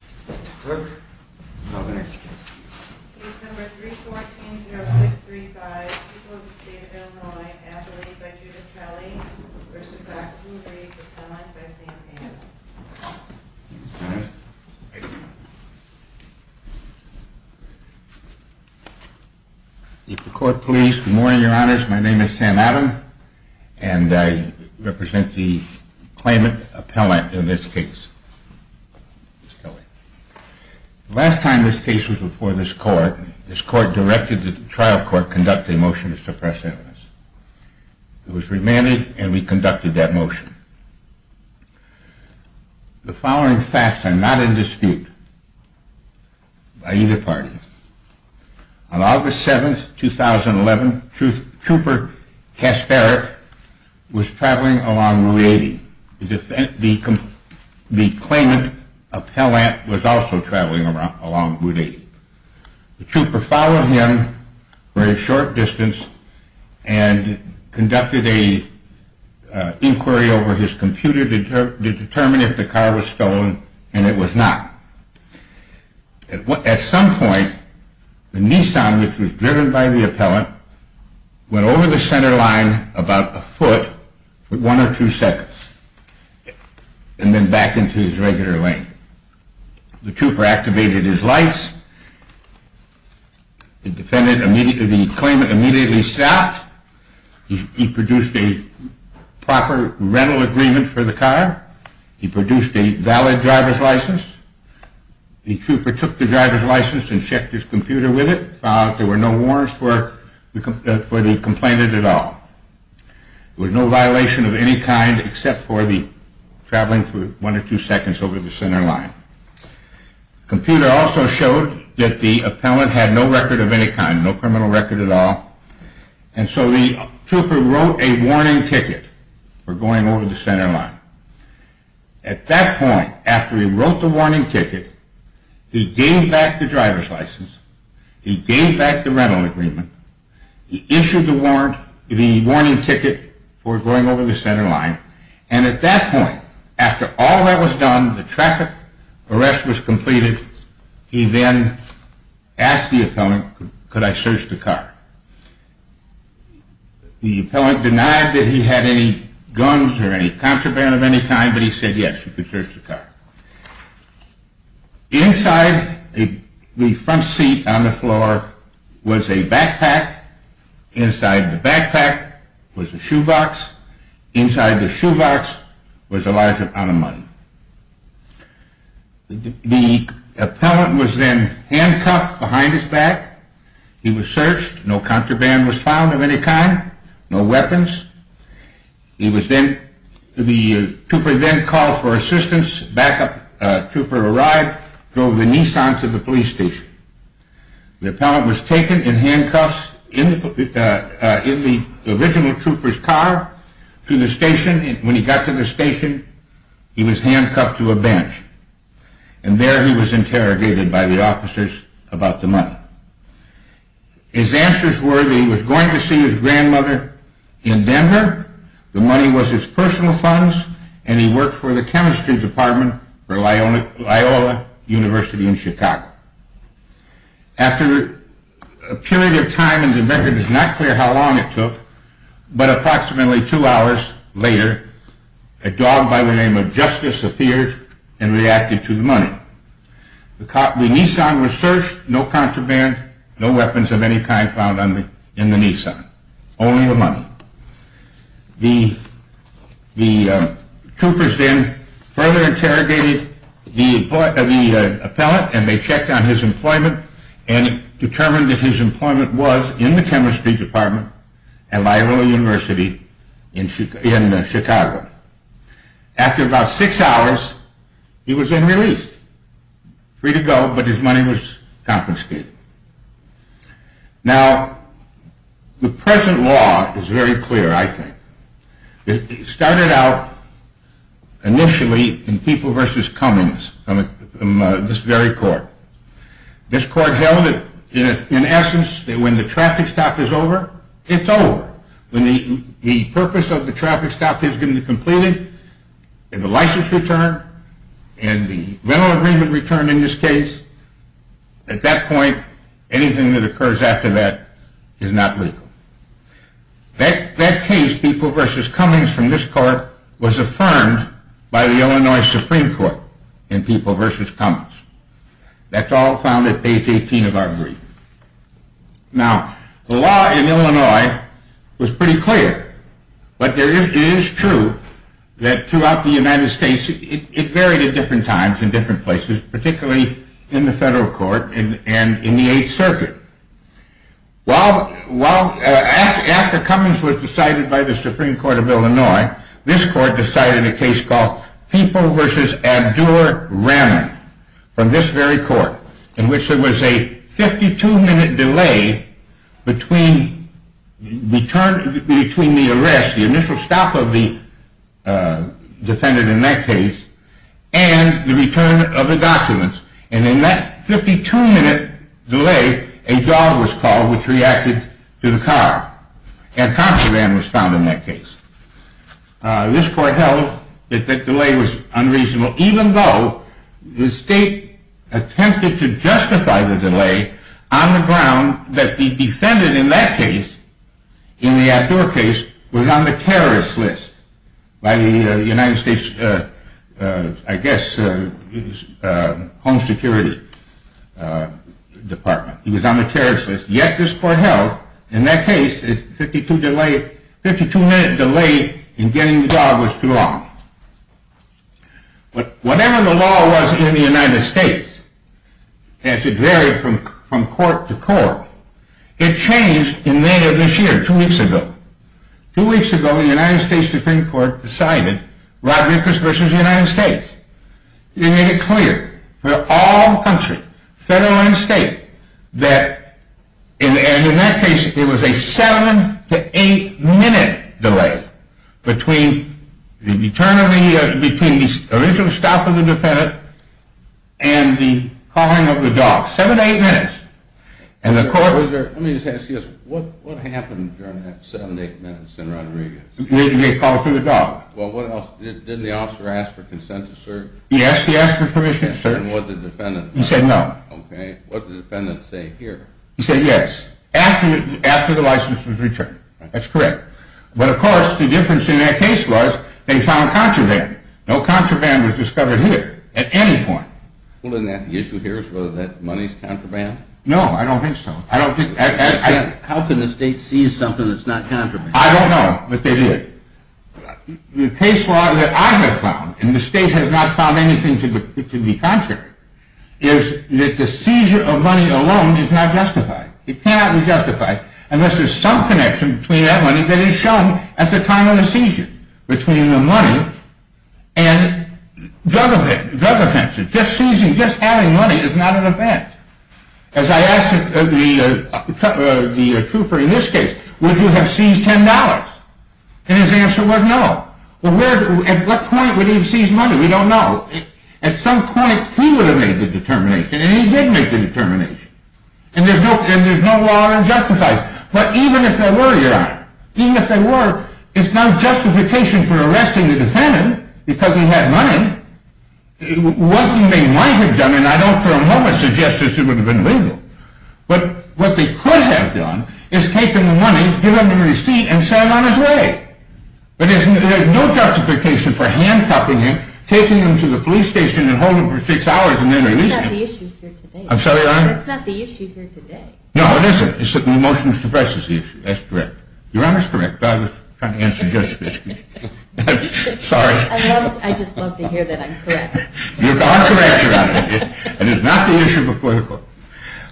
Case number 314-0635, people of the state of Illinois, appellate by Judith Kelley v. Axne Rease, appellant by Sam Adams. If the court please. Good morning, your honors. My name is Sam Adams and I represent the claimant appellant in this case. Last time this case was before this court, this court directed the trial court conduct a motion to suppress evidence. It was remanded and we conducted that motion. The following facts are not in dispute by either party. On August 7, 2011, Trooper Kasparov was traveling along Route 80. The claimant appellant was also traveling along Route 80. The trooper followed him for a short distance and conducted an inquiry over his computer to determine if the car was stolen and it was not. At some point, the Nissan which was driven by the appellant went over the center line about a foot for one or two seconds and then back into his regular lane. The trooper activated his lights. The claimant immediately stopped. He produced a proper rental agreement for the car. He produced a valid driver's license. The trooper took the driver's license and checked his computer with it. There were no warrants for the complainant at all. There was no violation of any kind except for the traveling for one or two seconds over the center line. The computer also showed that the appellant had no record of any kind, no criminal record at all. And so the trooper wrote a warning ticket for going over the center line. At that point, after he wrote the warning ticket, he gave back the driver's license, he gave back the rental agreement, he issued the warning ticket for going over the center line, and at that point, after all that was done, the traffic arrest was completed, he then asked the appellant, could I search the car? The appellant denied that he had any guns or any contraband of any kind, but he said yes, you could search the car. Inside the front seat on the floor was a backpack, inside the backpack was a shoebox, inside the shoebox was a large amount of money. The appellant was then handcuffed behind his back, he was searched, no contraband was found of any kind, no weapons. The trooper then called for assistance, a backup trooper arrived, drove the Nissan to the police station. The appellant was taken in handcuffs in the original trooper's car to the station, when he got to the station, he was handcuffed to a bench, and there he was interrogated by the officers about the money. His answers were that he was going to see his grandmother in Denver, the money was his personal funds, and he worked for the chemistry department for Loyola University in Chicago. After a period of time, and the record is not clear how long it took, but approximately two hours later, a dog by the name of Justice appeared and reacted to the money. The Nissan was searched, no contraband, no weapons of any kind found in the Nissan, only the money. The troopers then further interrogated the appellant and they checked on his employment and determined that his employment was in the chemistry department at Loyola University in Chicago. After about six hours, he was then released, free to go, but his money was confiscated. Now, the present law is very clear, I think. It started out initially in People v. Cummings, this very court. This court held, in essence, that when the traffic stop is over, it's over. When the purpose of the traffic stop is completed, and the license returned, and the rental agreement returned in this case, at that point, anything that occurs after that is not legal. That case, People v. Cummings, from this court, was affirmed by the Illinois Supreme Court in People v. Cummings. That's all found at page 18 of our brief. Now, the law in Illinois was pretty clear, but it is true that throughout the United States, it varied at different times in different places, particularly in the federal court and in the 8th Circuit. After Cummings was decided by the Supreme Court of Illinois, this court decided a case called People v. Abdur-Rahman, from this very court, in which there was a 52-minute delay between the arrest, the initial stop of the defendant in that case, and the return of the documents. And in that 52-minute delay, a dog was called, which reacted to the car. And a contraband was found in that case. This court held that the delay was unreasonable, even though the state attempted to justify the delay on the ground that the defendant in that case, in the Abdur case, was on the terrorist list by the United States, I guess, Home Security Department. He was on the terrorist list, yet this court held, in that case, a 52-minute delay in getting the dog was too long. Whatever the law was in the United States, as it varied from court to court, it changed in May of this year, two weeks ago. Two weeks ago, the United States Supreme Court decided Rodriguez v. United States. They made it clear for all the country, federal and state, that in that case, there was a 7-8-minute delay between the return of the original stop of the defendant and the calling of the dog. 7-8 minutes. Let me just ask you this, what happened during that 7-8 minutes in Rodriguez? They called for the dog. Well, what else, didn't the officer ask for consent to serve? Yes, he asked for permission to serve. And what did the defendant say? He said no. Okay, what did the defendant say here? He said yes, after the license was returned. That's correct. But, of course, the difference in that case was, they found contraband. No contraband was discovered here, at any point. Well, isn't that the issue here, is whether that money is contraband? No, I don't think so. How can the state see something that's not contraband? I don't know, but they did. The case law that I have found, and the state has not found anything to be contrary, is that the seizure of money alone is not justified. It cannot be justified unless there's some connection between that money that is shown at the time of the seizure. Between the money and drug offenses. Just seizing, just having money is not an offense. As I asked the trooper in this case, would you have seized $10? And his answer was no. At what point would he have seized money? We don't know. At some point, he would have made the determination, and he did make the determination. And there's no law that justifies it. But even if there were, Your Honor, even if there were, it's not justification for arresting the defendant because he had money. What they might have done, and I don't for a moment suggest that it would have been legal, but what they could have done is take the money, give him the receipt, and send him on his way. But there's no justification for handcuffing him, taking him to the police station, and holding him for six hours, and then releasing him. That's not the issue here today. I'm sorry, Your Honor? That's not the issue here today. No, it isn't. It's that the motion suppresses the issue. That's correct. Your Honor's correct, but I was trying to answer Joseph's question. Sorry. I just love to hear that I'm correct. You're correct, Your Honor. It is not the issue before the court.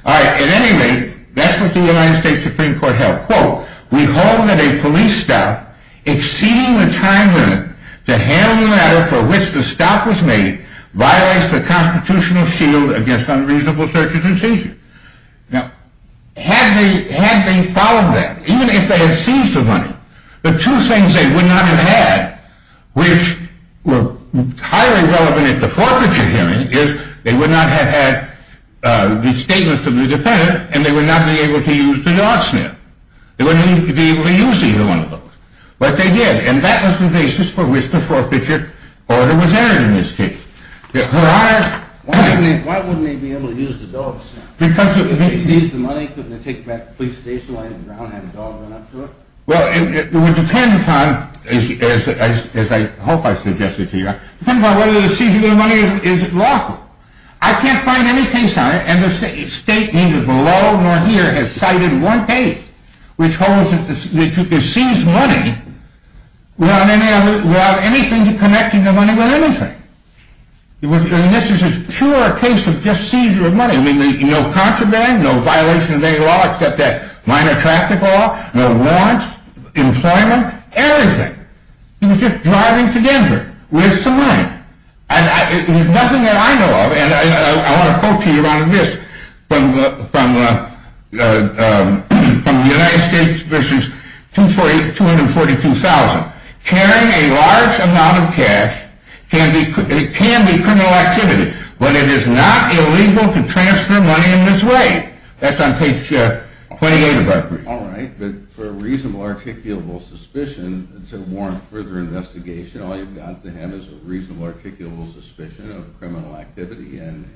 All right. At any rate, that's what the United States Supreme Court held. Quote, we hold that a police stop exceeding the time limit to handle the matter for which the stop was made violates the constitutional shield against unreasonable searches and seizures. Now, had they followed that, even if they had seized the money, the two things they would not have had, which were highly relevant at the forfeiture hearing, is they would not have had the statements of the defendant, and they would not be able to use the dog snare. They wouldn't be able to use either one of those. But they did, and that was the basis for which the forfeiture order was entered in this case. Your Honor? Why wouldn't they be able to use the dog snare? Because of the case. If they seized the money, couldn't they take it back to the police station? Why didn't Brown have a dog run up to it? Well, it would depend on, as I hope I suggested to you, it depends on whether the seizure of money is lawful. I can't find any case on it, and the State neither below nor here has cited one case which holds that you can seize money without anything connecting the money with anything. I mean, this is a pure case of just seizure of money. I mean, no contraband, no violation of any law except that minor traffic law, no warrants, employment, everything. He was just driving to Denver with some money. It was nothing that I know of, and I want to quote to you out of this from the United States v. 242,000. Carrying a large amount of cash can be criminal activity, but it is not illegal to transfer money in this way. That's on page 28 of our brief. All right, but for a reasonable, articulable suspicion to warrant further investigation, all you've got to have is a reasonable, articulable suspicion of criminal activity, and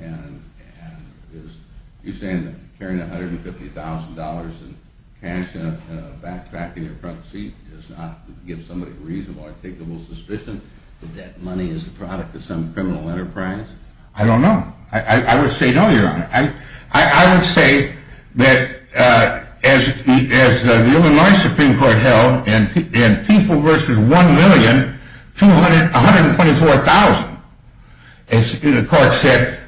you're saying that carrying $150,000 in cash in a backpack in your front seat does not give somebody a reasonable, articulable suspicion that that money is the product of some criminal enterprise? I don't know. I would say no, Your Honor. I would say that as the Illinois Supreme Court held in People v. 1,124,000, the court said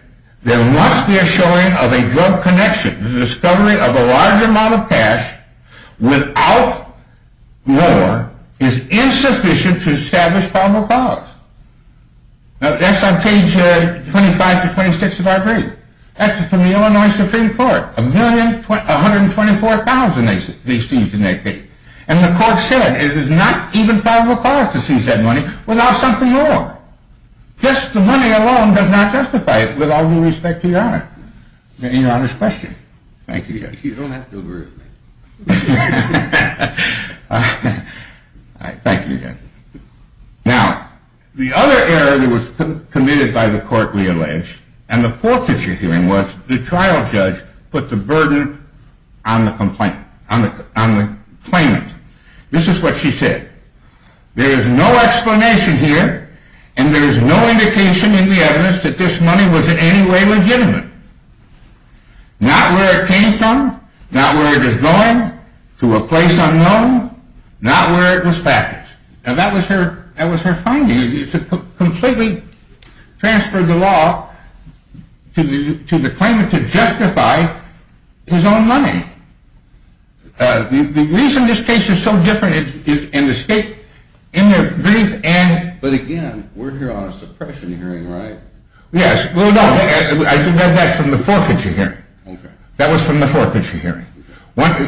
there must be a showing of a drug connection. The discovery of a large amount of cash without war is insufficient to establish probable cause. Now, that's on page 25 to 26 of our brief. That's from the Illinois Supreme Court, 1,124,000 they seized in that case, and the court said it is not even probable cause to seize that money without something wrong. Just the money alone does not justify it with all due respect to Your Honor's question. Thank you, again. You don't have to overrule me. All right, thank you, again. Now, the other error that was committed by the court we allege, and the fourth that you're hearing was the trial judge put the burden on the claimant. This is what she said. There is no explanation here, and there is no indication in the evidence that this money was in any way legitimate. Not where it came from, not where it is going, to a place unknown, not where it was packaged. Now, that was her finding. It completely transferred the law to the claimant to justify his own money. The reason this case is so different is in the state, in the brief, and... But, again, we're here on a suppression hearing, right? Yes, well, no, I read that from the forfeiture hearing. That was from the forfeiture hearing. Once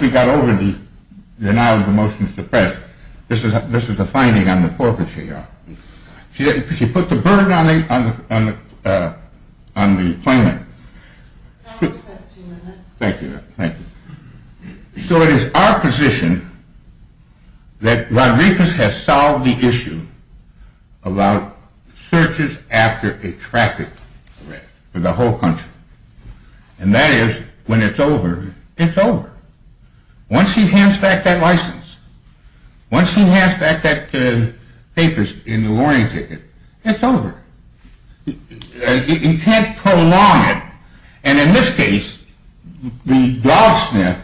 we got over the denial of the motion to suppress, this is the finding on the forfeiture, Your Honor. She put the burden on the claimant. I'll ask the question in a minute. Thank you. So it is our position that Rodriguez has solved the issue about searches after a traffic arrest for the whole country. And that is, when it's over, it's over. Once he hands back that license, once he hands back that papers in the warning ticket, it's over. You can't prolong it. And in this case, the dog sniff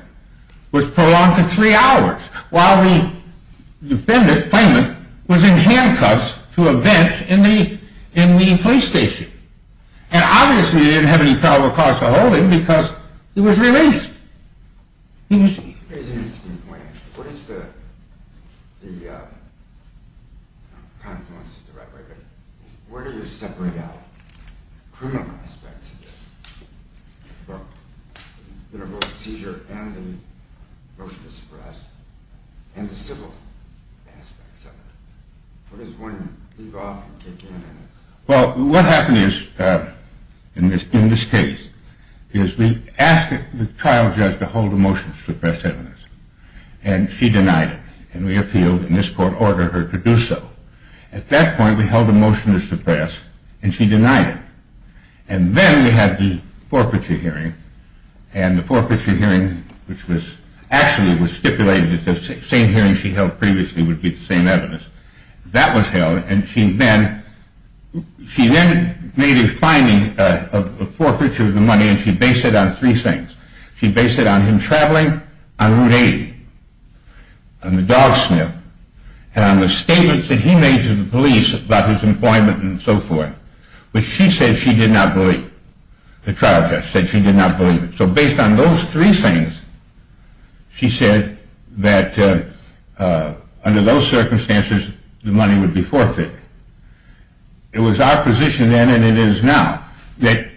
was prolonged for three hours while the defendant, claimant, was in handcuffs to a vent in the police station. And obviously he didn't have any probable cause for holding because he was released. Here's an interesting point. What is the, the confluence is the right word, but where do you separate out criminal aspects of this? You know, both seizure and the motion to suppress and the civil aspects of it. Where does one leave off and take in? Well, what happened is, in this case, is we asked the trial judge to hold a motion to suppress evidence, and she denied it. And we appealed, and this court ordered her to do so. At that point, we held a motion to suppress, and she denied it. And then we had the forfeiture hearing. And the forfeiture hearing, which was, actually was stipulated that the same hearing she held previously would be the same evidence. That was held, and she then, she then made a finding of forfeiture of the money, and she based it on three things. She based it on him traveling on Route 80, on the dog sniff, and on the statements that he made to the police about his employment and so forth, which she said she did not believe. The trial judge said she did not believe it. So based on those three things, she said that under those circumstances, the money would be forfeited. It was our position then, and it is now, that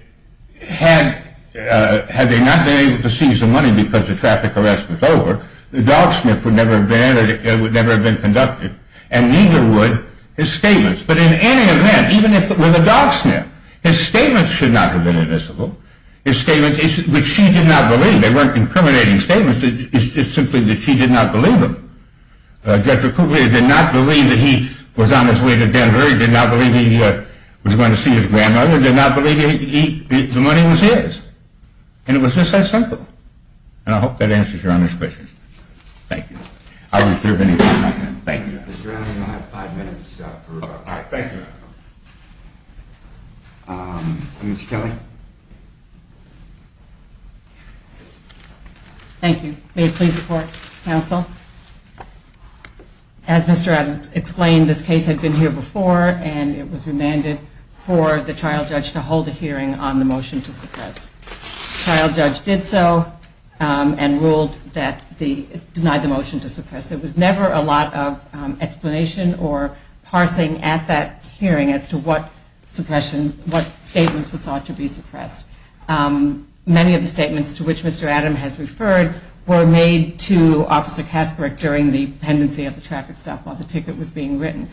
had they not been able to seize the money because the traffic arrest was over, the dog sniff would never have been conducted, and neither would his statements. But in any event, even with a dog sniff, his statements should not have been admissible. His statements, which she did not believe, they weren't incriminating statements. It's simply that she did not believe them. Jeffrey Cooper did not believe that he was on his way to Denver. He did not believe he was going to see his grandmother. He did not believe the money was his. And it was just that simple. And I hope that answers Your Honor's question. Thank you. Thank you. Mr. Adams, you have five minutes for rebuttal. All right. Thank you, Your Honor. Ms. Kelly. Thank you. May it please the court, counsel. As Mr. Adams explained, this case had been here before, and it was remanded for the trial judge to hold a hearing on the motion to suppress. The trial judge did so and ruled that the, denied the motion to suppress. There was never a lot of explanation or parsing at that hearing as to what suppression, what statements were sought to be suppressed. Many of the statements to which Mr. Adams has referred were made to Officer Kasperick during the pendency of the traffic stop while the ticket was being written.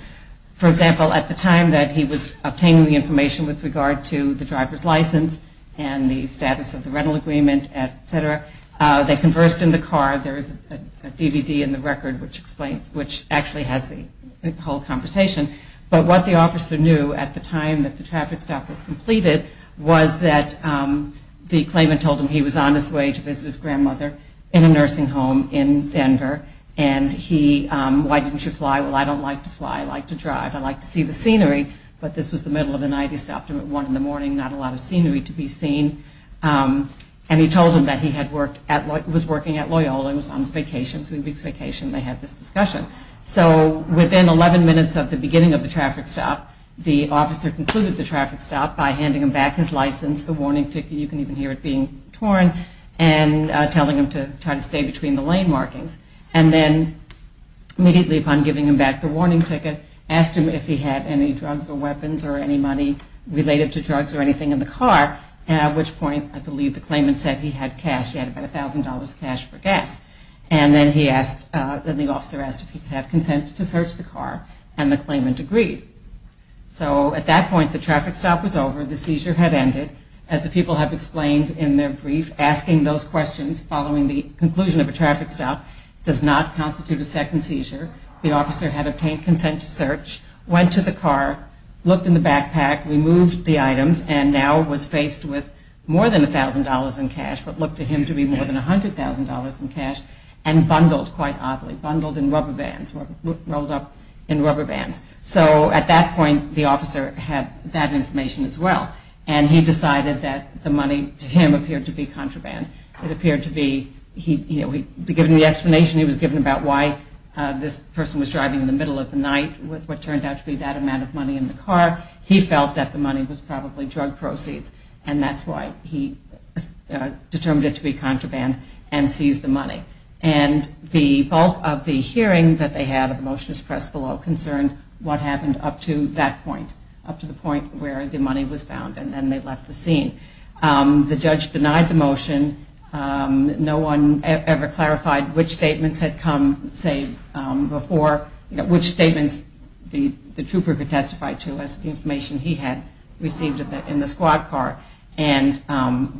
For example, at the time that he was obtaining the information with regard to the driver's license and the status of the rental agreement, et cetera, they conversed in the car. There is a DVD in the record which explains, which actually has the whole conversation. But what the officer knew at the time that the traffic stop was completed was that the claimant told him he was on his way to visit his grandmother in a nursing home in Denver. And he, why didn't you fly? Well, I don't like to fly. I like to drive. I like to see the scenery. But this was the middle of the night. He stopped him at 1 in the morning, not a lot of scenery to be seen. And he told him that he had worked at, was working at Loyola. He was on vacation, three weeks vacation. They had this discussion. So within 11 minutes of the beginning of the traffic stop, the officer concluded the traffic stop by handing him back his license, the warning ticket, you can even hear it being torn, and telling him to try to stay between the lane markings. And then immediately upon giving him back the warning ticket, asked him if he had any drugs or weapons or any money related to drugs or anything in the car, at which point I believe the claimant said he had cash. He had about $1,000 cash for gas. And then he asked, then the officer asked if he could have consent to search the car, and the claimant agreed. So at that point, the traffic stop was over. The seizure had ended. As the people have explained in their brief, asking those questions following the conclusion of a traffic stop does not constitute a second seizure. The officer had obtained consent to search, went to the car, looked in the backpack, removed the items, and now was faced with more than $1,000 in cash, what looked to him to be more than $100,000 in cash, and bundled quite oddly, bundled in rubber bands, rolled up in rubber bands. So at that point, the officer had that information as well. And he decided that the money, to him, appeared to be contraband. It appeared to be, you know, given the explanation he was given about why this person was driving in the middle of the night with what turned out to be that amount of money in the car, he felt that the money was probably drug proceeds. And that's why he determined it to be contraband and seized the money. And the bulk of the hearing that they had of the motionist press below concerned what happened up to that point, up to the point where the money was found, and then they left the scene. The judge denied the motion. No one ever clarified which statements had come, say, before, which statements the trooper could testify to as the information he had received in the squad car and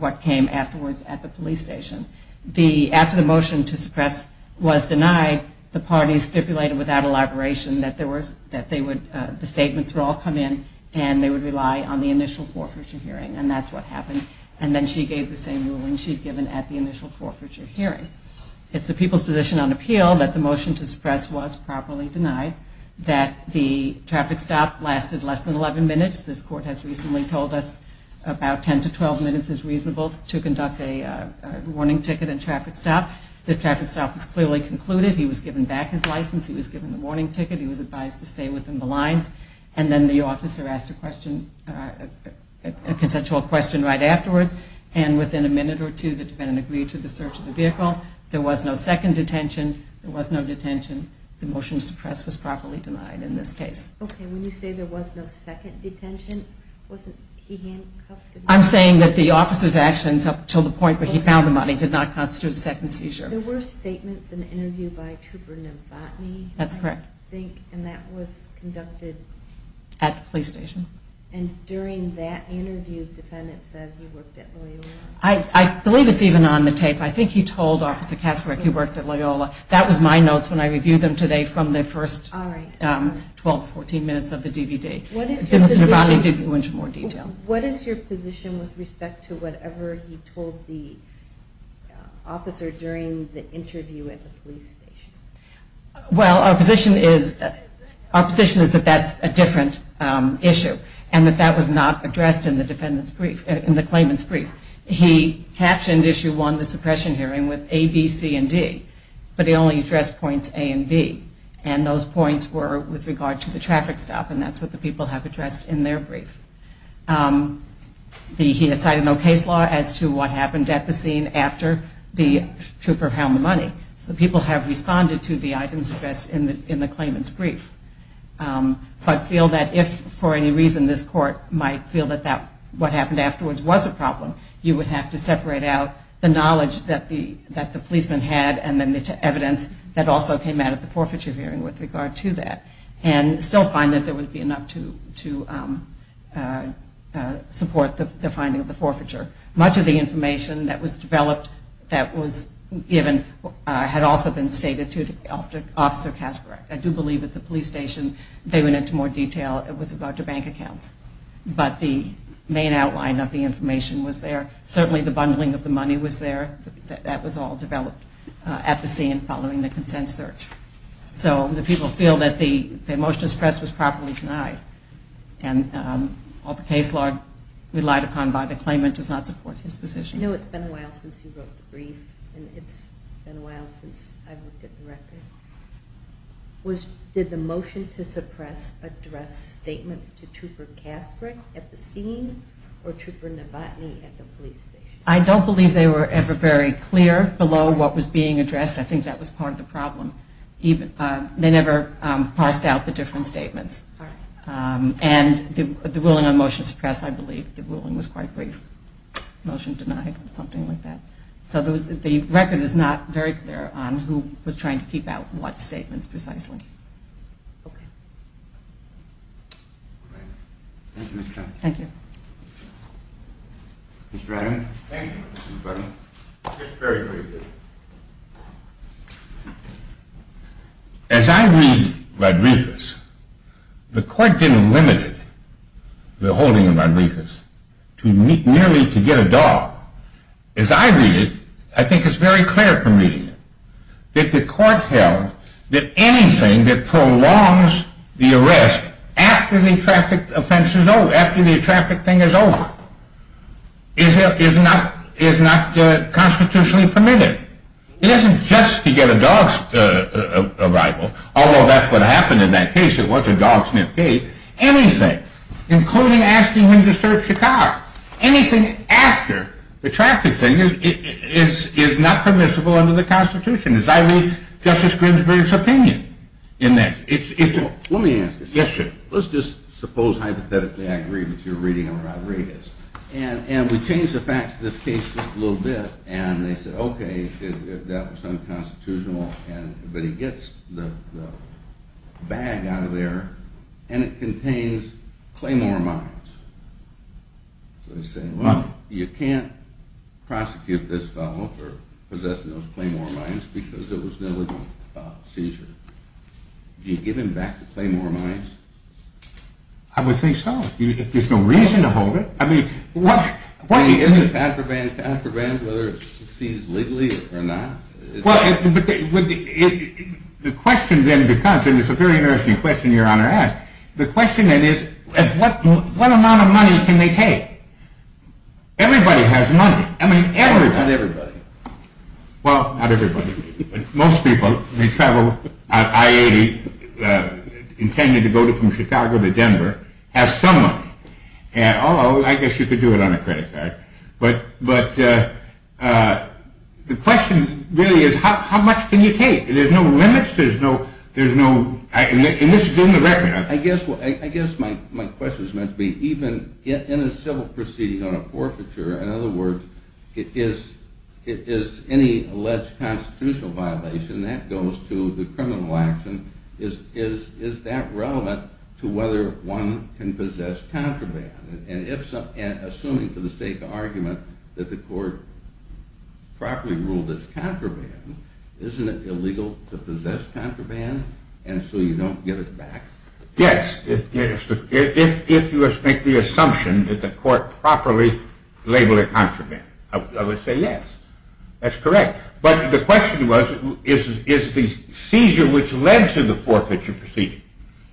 what came afterwards at the police station. After the motion to suppress was denied, the parties stipulated without elaboration that the statements would all come in and they would rely on the initial forfeiture hearing. And that's what happened. And then she gave the same ruling she had given at the initial forfeiture hearing. It's the people's position on appeal that the motion to suppress was properly denied, that the traffic stop lasted less than 11 minutes. This court has recently told us about 10 to 12 minutes is reasonable to conduct a warning ticket and traffic stop. The traffic stop was clearly concluded. He was given back his license. He was given the warning ticket. He was advised to stay within the lines. And then the officer asked a question, a consensual question right afterwards. And within a minute or two, the defendant agreed to the search of the vehicle. There was no second detention. There was no detention. The motion to suppress was properly denied in this case. Okay, when you say there was no second detention, wasn't he handcuffed? I'm saying that the officer's actions up to the point where he found the money did not constitute a second seizure. There were statements in an interview by Trooper Novotny. That's correct. And that was conducted? At the police station. And during that interview, the defendant said he worked at Loyola? I believe it's even on the tape. I think he told Officer Kasbrick he worked at Loyola. That was my notes when I reviewed them today from the first 12, 14 minutes of the DVD. Mr. Novotny did go into more detail. What is your position with respect to whatever he told the officer during the interview at the police station? Well, our position is that that's a different issue. And that that was not addressed in the claimant's brief. He captioned Issue 1, the suppression hearing, with A, B, C, and D. But he only addressed points A and B. And those points were with regard to the traffic stop. And that's what the people have addressed in their brief. He has cited no case law as to what happened at the scene after the trooper found the money. So the people have responded to the items addressed in the claimant's brief. But feel that if for any reason this court might feel that what happened afterwards was a problem, you would have to separate out the knowledge that the policeman had and then the evidence that also came out of the forfeiture hearing with regard to that. And still find that there would be enough to support the finding of the forfeiture. Much of the information that was developed that was given had also been stated to Officer Kasbrick. I do believe at the police station they went into more detail with regard to bank accounts. But the main outline of the information was there. Certainly the bundling of the money was there. That was all developed at the scene following the consent search. So the people feel that the motion to suppress was properly denied. And all the case law relied upon by the claimant does not support his position. I know it's been a while since he wrote the brief. And it's been a while since I looked at the record. Did the motion to suppress address statements to Trooper Kasbrick at the scene or Trooper Novotny at the police station? I don't believe they were ever very clear below what was being addressed. I think that was part of the problem. They never parsed out the different statements. And the ruling on motion to suppress, I believe the ruling was quite brief. Motion denied, something like that. So the record is not very clear on who was trying to keep out what statements precisely. As I read Rodriguez, the court didn't limit the holding of Rodriguez to merely to get a dog. As I read it, I think it's very clear from reading it that the court held that anything that prolongs the arrest after the traffic offense is over, after the traffic thing is over, is not constitutionally permitted. It isn't just to get a dog's arrival, although that's what happened in that case. It wasn't a dog sniff case. Anything, including asking him to search the car, anything after the traffic thing is not permissible under the Constitution. As I read Justice Grimsby's opinion in that. Let me ask you something. Yes, sir. Let's just suppose hypothetically I agree with your reading of Rodriguez. And we change the facts of this case just a little bit, and they say, okay, that was unconstitutional. But he gets the bag out of there, and it contains Claymore mines. So they say, well, you can't prosecute this fellow for possessing those Claymore mines because it was known as a seizure. Do you give him back the Claymore mines? I would say so. There's no reason to hold it. Is it contraband, whether it's seized legally or not? Well, the question then becomes, and it's a very interesting question your Honor asked, the question then is, what amount of money can they take? Everybody has money. Not everybody. Well, not everybody. Most people who travel on I-80 intended to go from Chicago to Denver have some money. Although, I guess you could do it on a credit card. But the question really is, how much can you take? There's no limits. There's no – and this is in the record. I guess my question is meant to be, even in a civil proceeding on a forfeiture, in other words, is any alleged constitutional violation that goes to the criminal action, is that relevant to whether one can possess contraband? And assuming for the sake of argument that the court properly ruled as contraband, isn't it illegal to possess contraband and so you don't give it back? Yes. If you make the assumption that the court properly labeled it contraband, I would say yes. That's correct. But the question was, is the seizure which led to the forfeiture proceeding,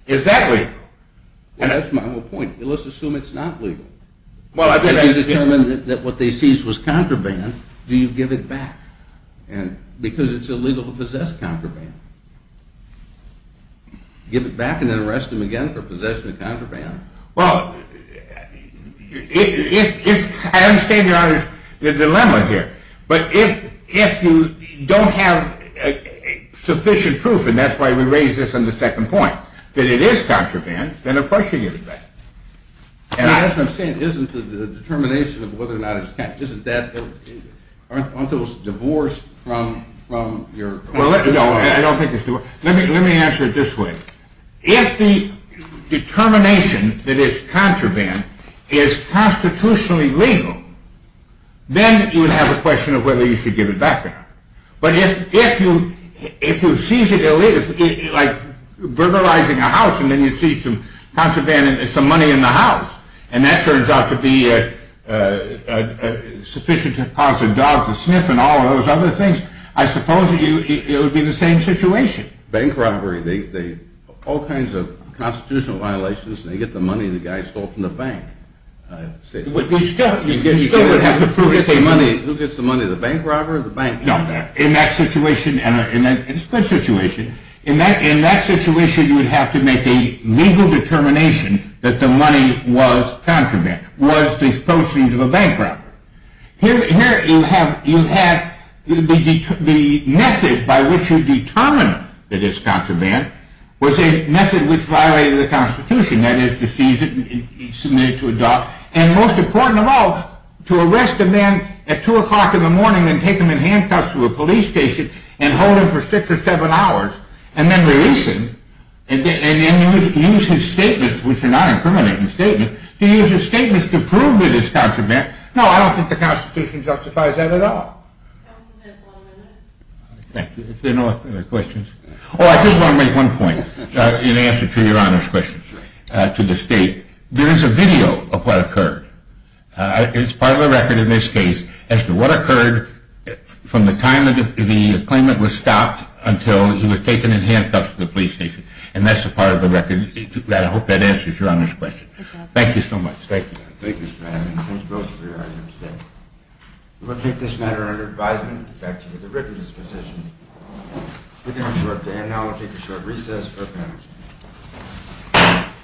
is that legal? Well, that's my whole point. Let's assume it's not legal. If you determine that what they seized was contraband, do you give it back? Because it's illegal to possess contraband. Give it back and then arrest them again for possession of contraband? Well, I understand your dilemma here. But if you don't have sufficient proof, and that's why we raised this on the second point, that it is contraband, then of course you give it back. As I'm saying, isn't the determination of whether or not it's contraband, isn't that, aren't those divorced from your… No, I don't think it's divorced. Let me answer it this way. If the determination that it's contraband is constitutionally legal, then you would have a question of whether you should give it back or not. But if you seize it illegally, like burglarizing a house and then you seize some contraband and some money in the house, and that turns out to be sufficient to cause a dog to sniff and all of those other things, I suppose it would be the same situation. Bank robbery, all kinds of constitutional violations, they get the money the guy stole from the bank. You still would have to prove it. Who gets the money, the bank robber? No, in that situation, and it's a good situation, in that situation you would have to make a legal determination that the money was contraband, was disposed of as a bank robber. Here you have the method by which you determine that it's contraband was a method which violated the constitution, that is to seize it and submit it to a dog, and most important of all, to arrest a man at 2 o'clock in the morning and take him in handcuffs to a police station and hold him for 6 or 7 hours, and then release him, and use his statements, which are not incriminating statements, to use his statements to prove that it's contraband. No, I don't think the constitution justifies that at all. Thank you, is there no other questions? Oh, I did want to make one point in answer to your Honor's question, to the State. There is a video of what occurred. It's part of the record in this case as to what occurred from the time the claimant was stopped until he was taken in handcuffs to the police station, and that's a part of the record, and I hope that answers your Honor's question. Thank you so much. Thank you, Your Honor. Thank you, Mr. Manning. Thank you both for your argument today. We will take this matter under advisement, effective at the written disposition. We're going to have a short day, and now we'll take a short recess for the panel.